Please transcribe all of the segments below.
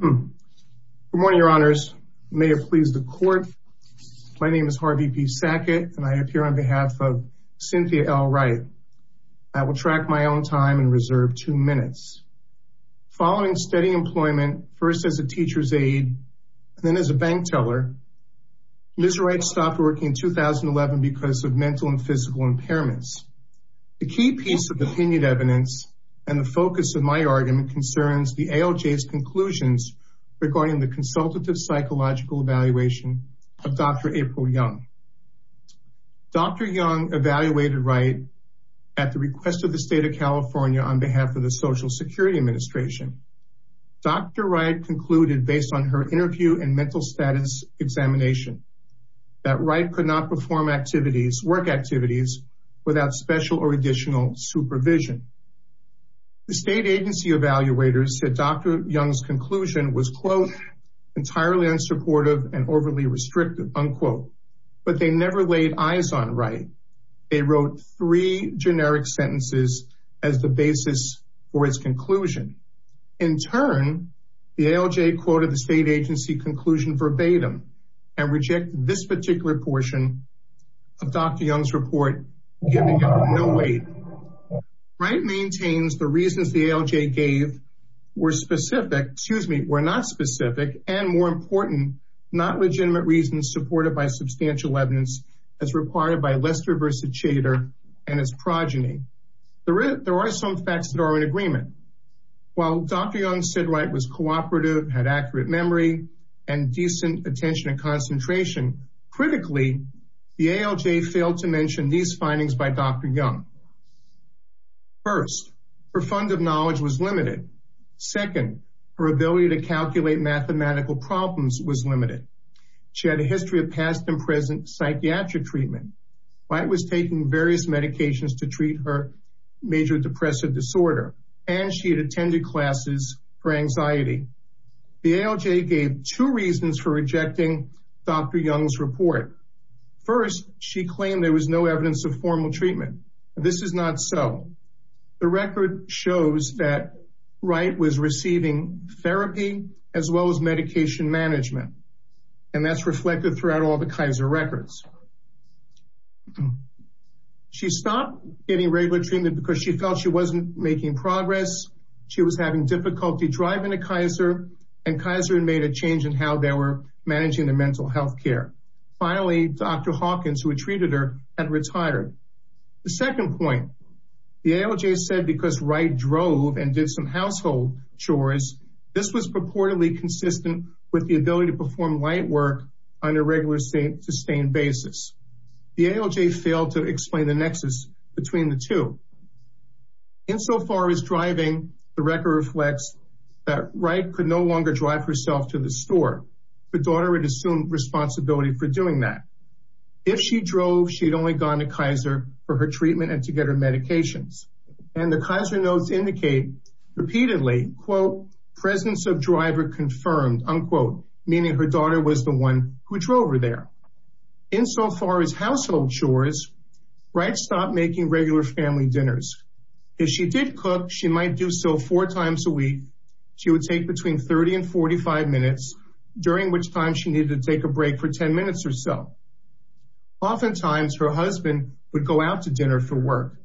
Good morning, your honors. May it please the court. My name is Harvey P. Sackett and I appear on behalf of Cynthia L. Wright. I will track my own time and reserve two minutes. Following steady employment, first as a teacher's aide, and then as a bank teller, Ms. Wright stopped working in 2011 because of mental and physical impairments. The key piece of opinion evidence and the focus of my argument concerns the ALJ's conclusions regarding the consultative psychological evaluation of Dr. April Young. Dr. Young evaluated Wright at the request of the state of California on behalf of the Social Security Administration. Dr. Wright concluded based on her interview and mental status examination, that Wright could not perform activities, work activities, without special or additional supervision. The state agency evaluators said Dr. Young's conclusion was, quote, entirely unsupportive and overly restrictive, unquote. But they never laid eyes on Wright. They wrote three generic sentences as the basis for its conclusion. In turn, the ALJ quoted the state agency conclusion verbatim and rejected this particular portion of Dr. Young's report, giving it no weight. Wright maintains the excuse me, were not specific and more important, not legitimate reasons supported by substantial evidence as required by Lester-versa-Chater and its progeny. There are some facts that are in agreement. While Dr. Young said Wright was cooperative, had accurate memory, and decent attention and concentration, critically, the ALJ failed to mention these findings by Dr. Young. First, her fund of knowledge was limited. She had a history of past and present psychiatric treatment. Wright was taking various medications to treat her major depressive disorder, and she had attended classes for anxiety. The ALJ gave two reasons for rejecting Dr. Young's report. First, she claimed there was no evidence of formal treatment. This is not so. The record shows that Wright was receiving therapy, as well as medication management. And that's reflected throughout all the Kaiser records. She stopped getting regular treatment because she felt she wasn't making progress. She was having difficulty driving a Kaiser and Kaiser and made a change in how they were managing their mental health care. Finally, Dr. Hawkins who treated her had retired. The second point, the ALJ said because Wright drove and did some household chores, this was purportedly consistent with the ability to perform light work on a regular, sustained basis. The ALJ failed to explain the nexus between the two. Insofar as driving, the record reflects that Wright could no longer drive herself to the store. Her daughter would assume responsibility for doing that. If she drove, she'd only gone to Kaiser for her treatment and to get her medications. And repeatedly, quote, presence of driver confirmed unquote, meaning her daughter was the one who drove her there. Insofar as household chores, Wright stopped making regular family dinners. If she did cook, she might do so four times a week. She would take between 30 and 45 minutes, during which time she needed to take a break for 10 minutes or so. Oftentimes her husband would go out to dinner for work.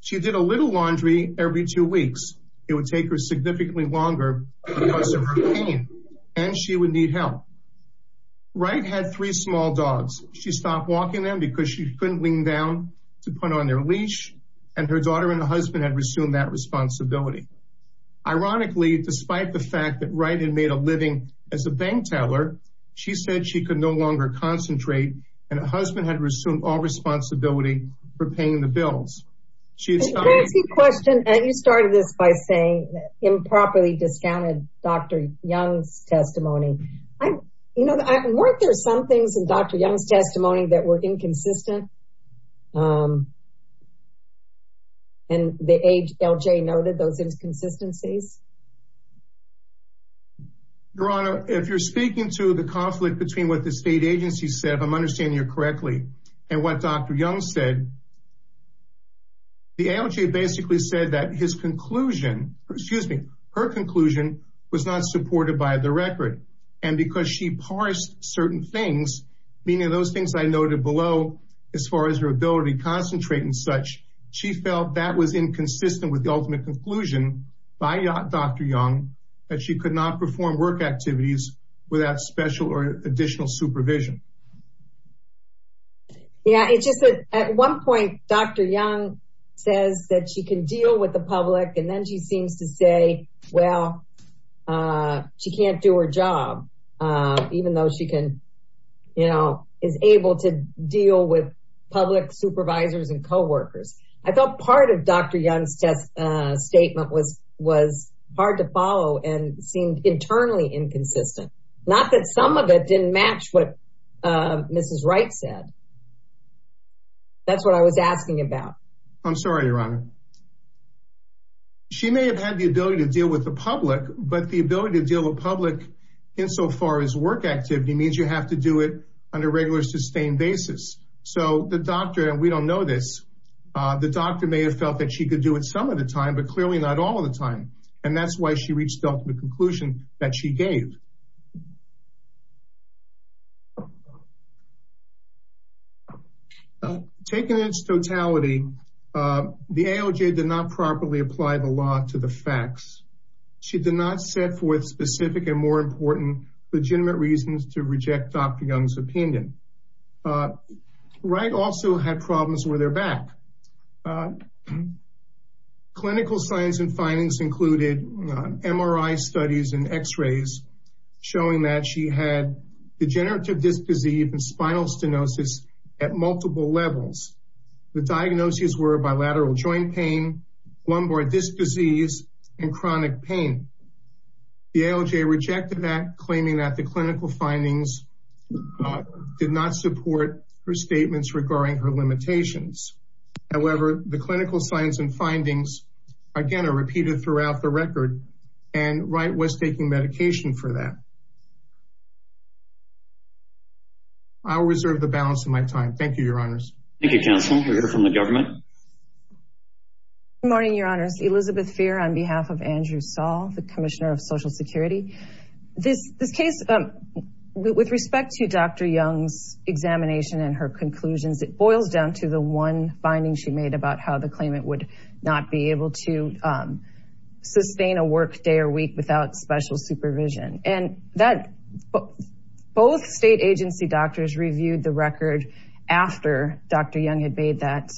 She did a little laundry every two weeks, it would take her significantly longer because of her pain, and she would need help. Wright had three small dogs, she stopped walking them because she couldn't lean down to put on their leash. And her daughter and her husband had resumed that responsibility. Ironically, despite the fact that Wright had made a living as a bank teller, she said she could no longer concentrate. And her husband had resumed all responsibility for paying the bills. She started this by saying improperly discounted Dr. Young's testimony. I, you know, weren't there some things in Dr. Young's testimony that were inconsistent? And the HLJ noted those inconsistencies? Your Honor, if you're speaking to the conflict between what the state agency said, if I'm understanding you correctly, and what Dr. Young said, the HLJ basically said that his conclusion, excuse me, her conclusion was not supported by the record. And because she parsed certain things, meaning those things I noted below, as far as her ability to concentrate and such, she felt that was inconsistent with the ultimate conclusion by Dr. Young, that she could not perform work activities without special or additional supervision. Yeah, it's just that at one point, Dr. Young says that she can deal with the public and then she seems to say, well, she can't do her job. Even though she can, you know, is able to deal with public supervisors and co workers. I thought part of Dr. Young's test statement was was hard to follow and seemed internally inconsistent. Not that some of it didn't match what Mrs. Wright said. That's what I was asking about. I'm sorry, Your Honor. She may have had the ability to deal with the public, but the ability to deal with public, insofar as work activity means you have to do it on a regular sustained basis. So the doctor and we don't know this. The doctor may have felt that she could do it some of the time, but clearly not all the time. And that's why she reached out to the court. Taking its totality, the ALJ did not properly apply the law to the facts. She did not set forth specific and more important, legitimate reasons to reject Dr. Young's opinion. Wright also had problems with her back. Clinical science and findings included MRI studies and x rays, showing that she had degenerative disc disease and spinal stenosis at multiple levels. The diagnoses were bilateral joint pain, lumbar disc disease, and chronic pain. The ALJ rejected that claiming that the clinical findings did not support her statements regarding her limitations. However, the clinical science and findings, again, are repeated throughout the record. And Wright was taking medication for that. I'll reserve the balance of my time. Thank you, Your Honors. Thank you, counsel. We'll hear from the government. Good morning, Your Honors. Elizabeth Feer on behalf of Andrew Saul, the Commissioner of Social Security. This case, with respect to Dr. Young's examination and her conclusions, it boils down to the one finding she made about how the claimant would not be able to sustain a work day or week without special supervision. And both state agency doctors reviewed the record after Dr. Young had made that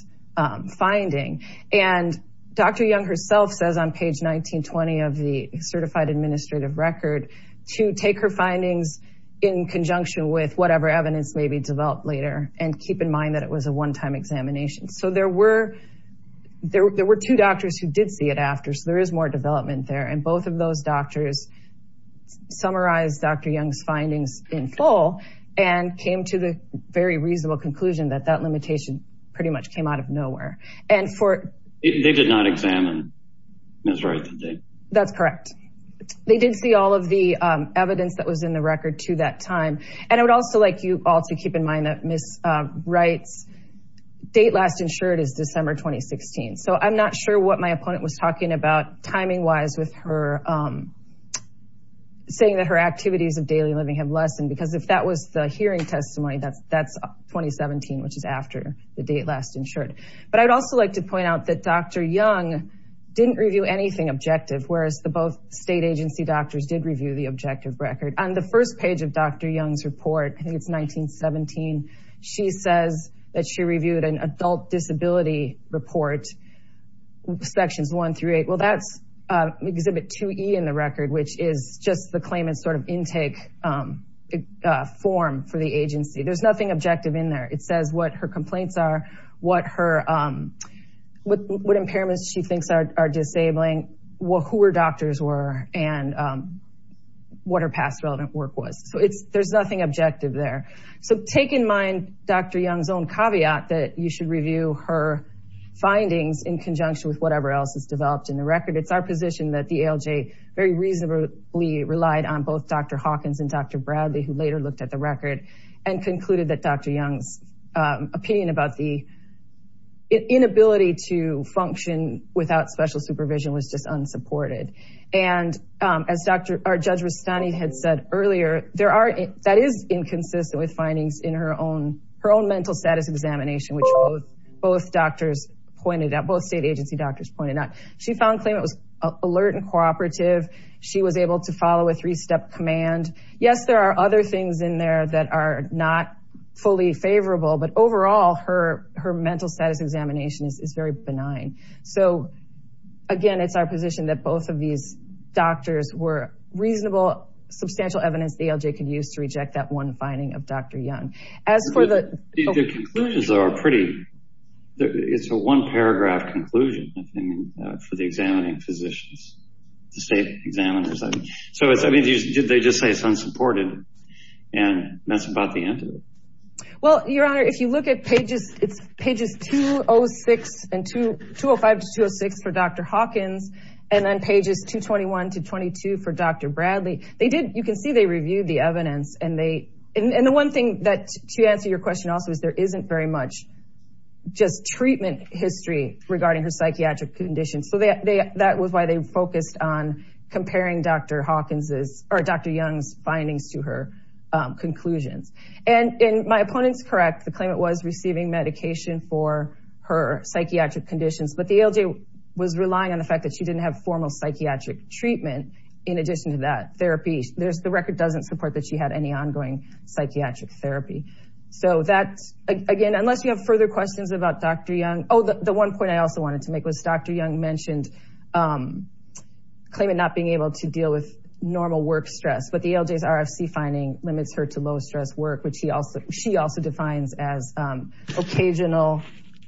finding. And Dr. Young herself says on page 1920 of the Certified Administrative Record to take her findings in conjunction with whatever evidence may be developed later, and keep in mind that it was a one-time examination. So there were two doctors who did see it after, so there is more development there. And both of those doctors summarized Dr. Young's findings in full and came to the very reasonable conclusion that that limitation pretty much came out of nowhere. And for... They did not examine Ms. Wright, did they? That's correct. They did see all of the evidence that was in the record to that time. And I would also like you all to keep in mind that Ms. Wright's date last insured is December 2016. So I'm not sure what my opponent was talking about timing-wise with her saying that her activities of daily living have lessened, because if that was the hearing testimony, that's 2017, which is after the date last insured. But I'd also like to point out that Dr. Young didn't review anything objective, whereas the both state agency doctors did review the objective record. On the first page of Dr. Young's report, I think it's 1917, she says that she reviewed an adult disability report, sections one through eight. Well, that's exhibit 2E in the record, which is just the claimant's sort of intake form for the agency. There's nothing objective in there. It says what her complaints are, what her, what impairments she thinks are disabling, who her doctors were, and what her past relevant work was. So it's, there's nothing objective there. So take in mind Dr. Young's own caveat that you should review her findings in conjunction with whatever else is developed in the record. It's our position that the ALJ very reasonably relied on both Dr. Hawkins and Dr. Bradley, who later looked at the record and concluded that Dr. Young's opinion about the inability to function without special supervision was just unsupported. And as Dr., or Judge Rustani had said earlier, there are, that is inconsistent with findings in her own, her own mental status examination, which both doctors pointed out, both state agency doctors pointed out. She found claim it was alert and cooperative. She was able to follow a three-step command. Yes, there are other things in there that are not fully favorable, but overall her mental status examination is very benign. So again, it's our position that both of these doctors were reasonable, substantial evidence the ALJ could use to reject that one conclusion. The conclusions are pretty, it's a one paragraph conclusion for the examining physicians, the state examiners. So it's, I mean, did they just say it's unsupported and that's about the end of it? Well, Your Honor, if you look at pages, it's pages 206 and 205 to 206 for Dr. Hawkins, and then pages 221 to 22 for Dr. Bradley, they did, you can see they reviewed the evidence and they, and the one thing that to answer your question also is there isn't very much just treatment history regarding her psychiatric conditions. So they, that was why they focused on comparing Dr. Hawkins's or Dr. Young's findings to her conclusions. And my opponent's correct. The claimant was receiving medication for her psychiatric conditions, but the ALJ was relying on the fact that she didn't have formal psychiatric treatment. In addition to that therapy, there's the record doesn't support that she had any Again, unless you have further questions about Dr. Young. Oh, the one point I also wanted to make was Dr. Young mentioned claimant not being able to deal with normal work stress, but the ALJ's RFC finding limits her to low stress work, which she also defines as occasional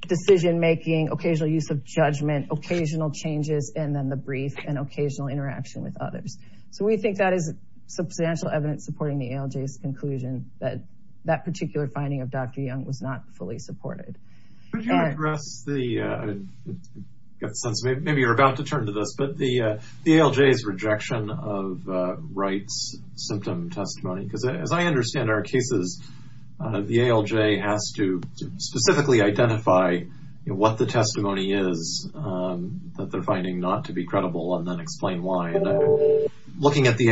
decision making, occasional use of judgment, occasional changes, and then the brief and occasional interaction with others. So we think that is substantial evidence supporting the ALJ's conclusion that that particular finding of Dr. Young was not fully supported. Could you address the, maybe you're about to turn to this, but the ALJ's rejection of Wright's symptom testimony, because as I understand our cases, the ALJ has to specifically identify what the testimony is, that they're finding not to be credible and then explain why. Looking at the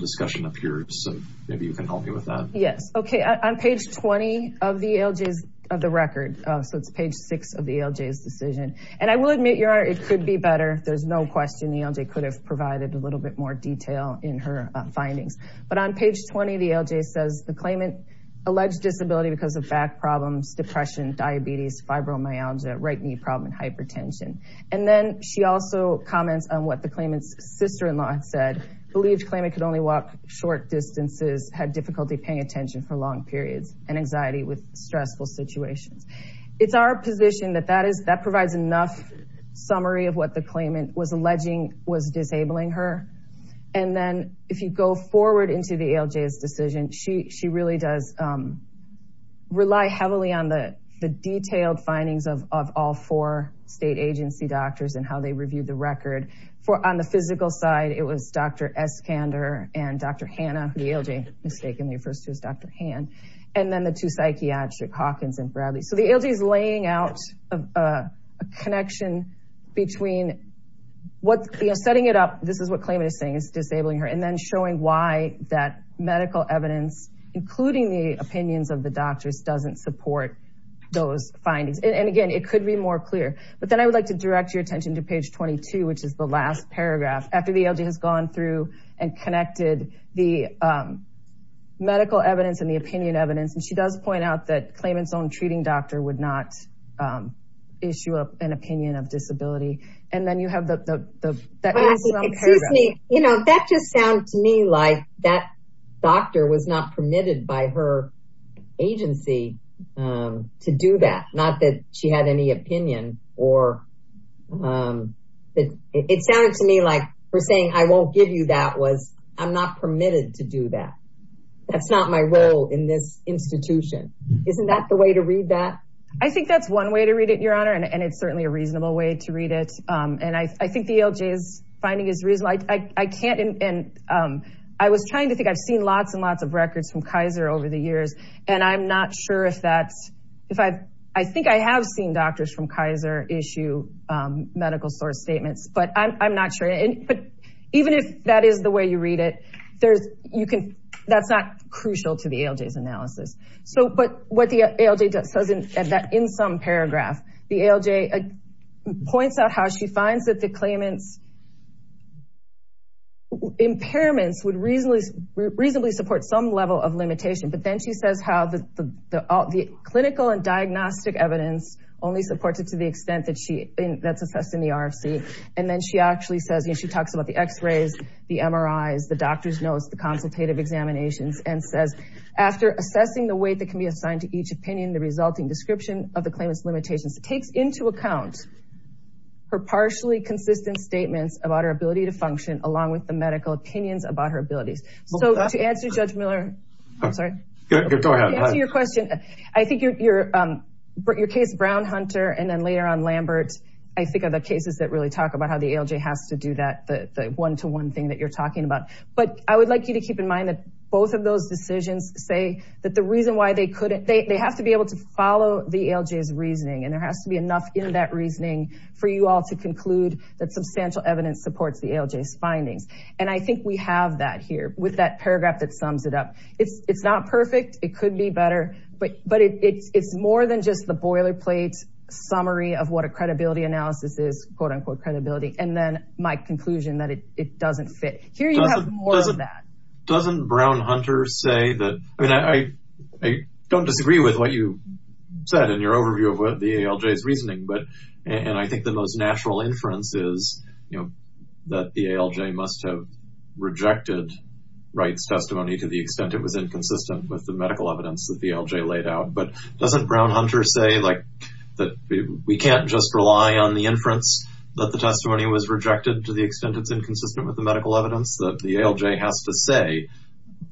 discussion up here. So maybe you can help me with that. Yes. Okay. On page 20 of the ALJ's, of the record. So it's page six of the ALJ's decision. And I will admit your honor, it could be better. There's no question the ALJ could have provided a little bit more detail in her findings. But on page 20, the ALJ says the claimant alleged disability because of back problems, depression, diabetes, fibromyalgia, right knee problem, and hypertension. And then she also comments on what the claimant's sister-in-law had said, believed claimant could only walk short distances, had difficulty paying attention for long periods and anxiety with stressful situations. It's our position that that is, that provides enough summary of what the claimant was alleging was disabling her. And then if you go forward into the ALJ's decision, she, she really does rely heavily on the, the detailed findings of, of all four state agency doctors and how they reviewed the record for on the physical side, it was Dr. Eskander and Dr. Hanna, who the ALJ mistakenly refers to as Dr. Han, and then the two psychiatric Hawkins and Bradley. So the ALJ is laying out a connection between what, you know, setting it up. This is what claimant is saying is disabling her and then showing why that medical evidence, including the opinions of the doctors doesn't support those findings. And again, it could be more clear, but then I would like to direct your attention to page 22, which is the last paragraph after the ALJ has gone through and connected the medical evidence and the opinion evidence. And she does point out that claimant's own treating doctor would not issue up an opinion of disability. And then you have the, the, the, you know, that just sounds to me like that doctor was not permitted by her agency to do that. Not that she had any opinion or that it sounded to me like we're saying, I won't give you that was, I'm not permitted to do that. That's not my role in this institution. Isn't that the way to read that? I think that's one way to read it, your honor. And it's certainly a reasonable way to read it. And I think the ALJ is finding is reasonable. I can't, and I was trying to think, I've seen lots and lots of records from Kaiser over the years. And I'm not sure if that's, if I've, I think I have seen doctors from Kaiser issue medical source statements, but I'm not sure. And, but even if that is the way you read it, there's, you can, that's not crucial to the ALJ's analysis. So, but what the ALJ does says in that, in some paragraph, the ALJ points out how she finds that the claimant's impairments would reasonably, reasonably support some level of limitation. But then she says how the, the, the clinical and only supports it to the extent that she, that's assessed in the RFC. And then she actually says, you know, she talks about the x-rays, the MRIs, the doctor's notes, the consultative examinations, and says, after assessing the weight that can be assigned to each opinion, the resulting description of the claimant's limitations takes into account her partially consistent statements about her ability to function along with the medical opinions about her abilities. So to answer Judge Miller, I'm sorry, to answer your question, I think your, your, your case, Brown, Hunter, and then later on Lambert, I think of the cases that really talk about how the ALJ has to do that, the one-to-one thing that you're talking about. But I would like you to keep in mind that both of those decisions say that the reason why they couldn't, they have to be able to follow the ALJ's reasoning. And there has to be enough in that reasoning for you all to conclude that substantial evidence supports the ALJ's findings. And I think we have that here with that paragraph that sums it up. It's, it's not perfect. It could be better, but, but it's, it's more than just the boilerplate summary of what a credibility analysis is, quote unquote, credibility. And then my conclusion that it, it doesn't fit. Here you have more of that. Doesn't Brown, Hunter say that, I mean, I, I don't disagree with what you said in your overview of what the ALJ's reasoning, but, and I think the most natural inference is, you know, that the ALJ must have rejected Wright's testimony to the extent it was inconsistent with the medical evidence that the ALJ laid out. But doesn't Brown, Hunter say like, that we can't just rely on the inference that the testimony was rejected to the extent it's inconsistent with the medical evidence that the ALJ has to say,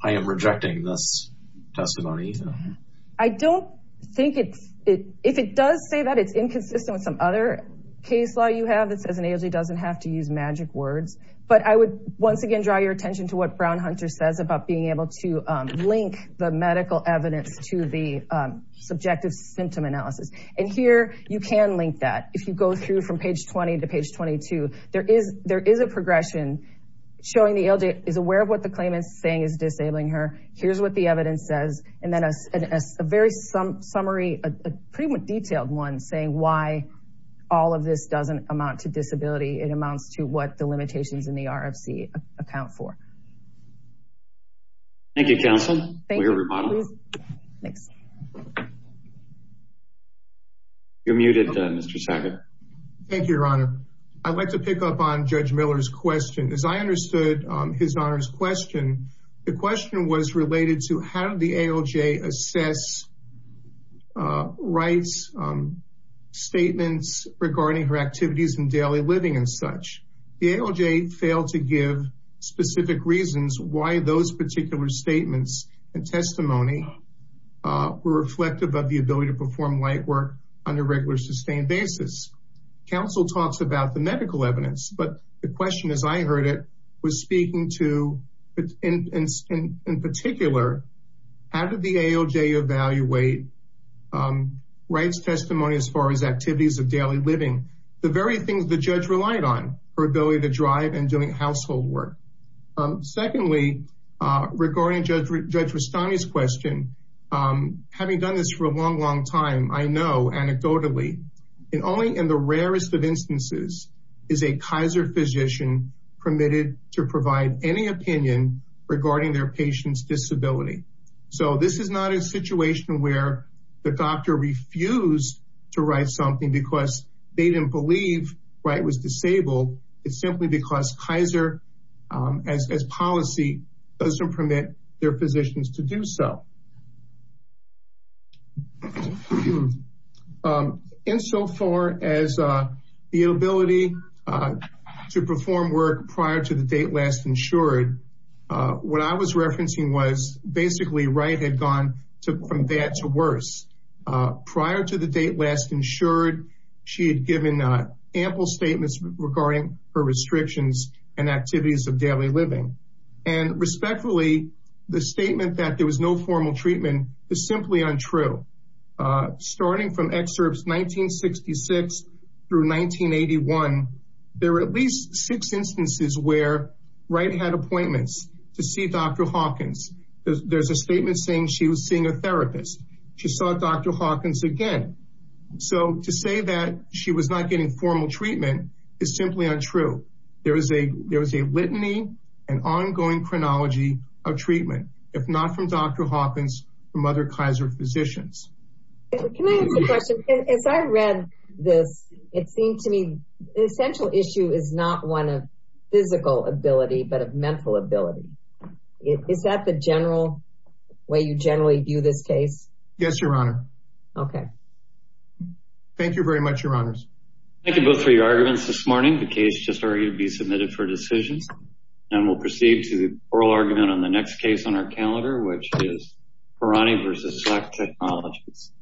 I am rejecting this testimony. I don't think it's, it, if it does say that it's inconsistent with some other case law you have that says an ALJ doesn't have to use magic words. But I would once again, draw your attention to what Brown, Hunter says about being able to link the medical evidence to the subjective symptom analysis. And here you can link that. If you go through from page 20 to page 22, there is, there is a progression showing the ALJ is aware of what the claimant is saying is disabling her. Here's what the evidence says. And then a very summary, a pretty detailed one saying why all of this doesn't amount to disability. It amounts to what the limitations in the RFC account for. Thank you, counsel. You're muted, Mr. Sackett. Thank you, Your Honor. I'd like to pick up on Judge Miller's question. As I understood his Honor's question, the question was related to how did the ALJ assess rights, statements regarding her activities in daily living and such. The ALJ failed to give specific reasons why those particular statements and testimony were reflective of the ability to perform light work on a regular sustained basis. Counsel talks about the medical evidence, but the question as I heard it was speaking to, in particular, how did the ALJ evaluate rights testimony as far as activities of daily living, the very household work. Secondly, regarding Judge Rastani's question, having done this for a long, long time, I know anecdotally, and only in the rarest of instances is a Kaiser physician permitted to provide any opinion regarding their patient's disability. So this is not a situation where the doctor refused to write something because they didn't believe Wright was disabled. It's simply because Kaiser, as policy, doesn't permit their physicians to do so. Insofar as the ability to perform work prior to the date last insured, what I was referencing was basically Wright had gone from bad to respectful statements regarding her restrictions and activities of daily living. And respectfully, the statement that there was no formal treatment is simply untrue. Starting from excerpts 1966 through 1981, there were at least six instances where Wright had appointments to see Dr. Hawkins. There's a statement saying she was seeing a therapist, she saw Dr. Hawkins again. So to say that she was not getting formal treatment is simply untrue. There is a litany and ongoing chronology of treatment, if not from Dr. Hawkins, from other Kaiser physicians. Can I ask a question? As I read this, it seemed to me the essential issue is not one of physical ability, but of mental ability. Is that the general way you generally view this case? Yes, Your Honor. Okay. Thank you very much, Your Honors. Thank you both for your arguments this morning. The case just argued to be submitted for decisions. And we'll proceed to the oral argument on the next case on our calendar, which is Parani versus Slack Technologies.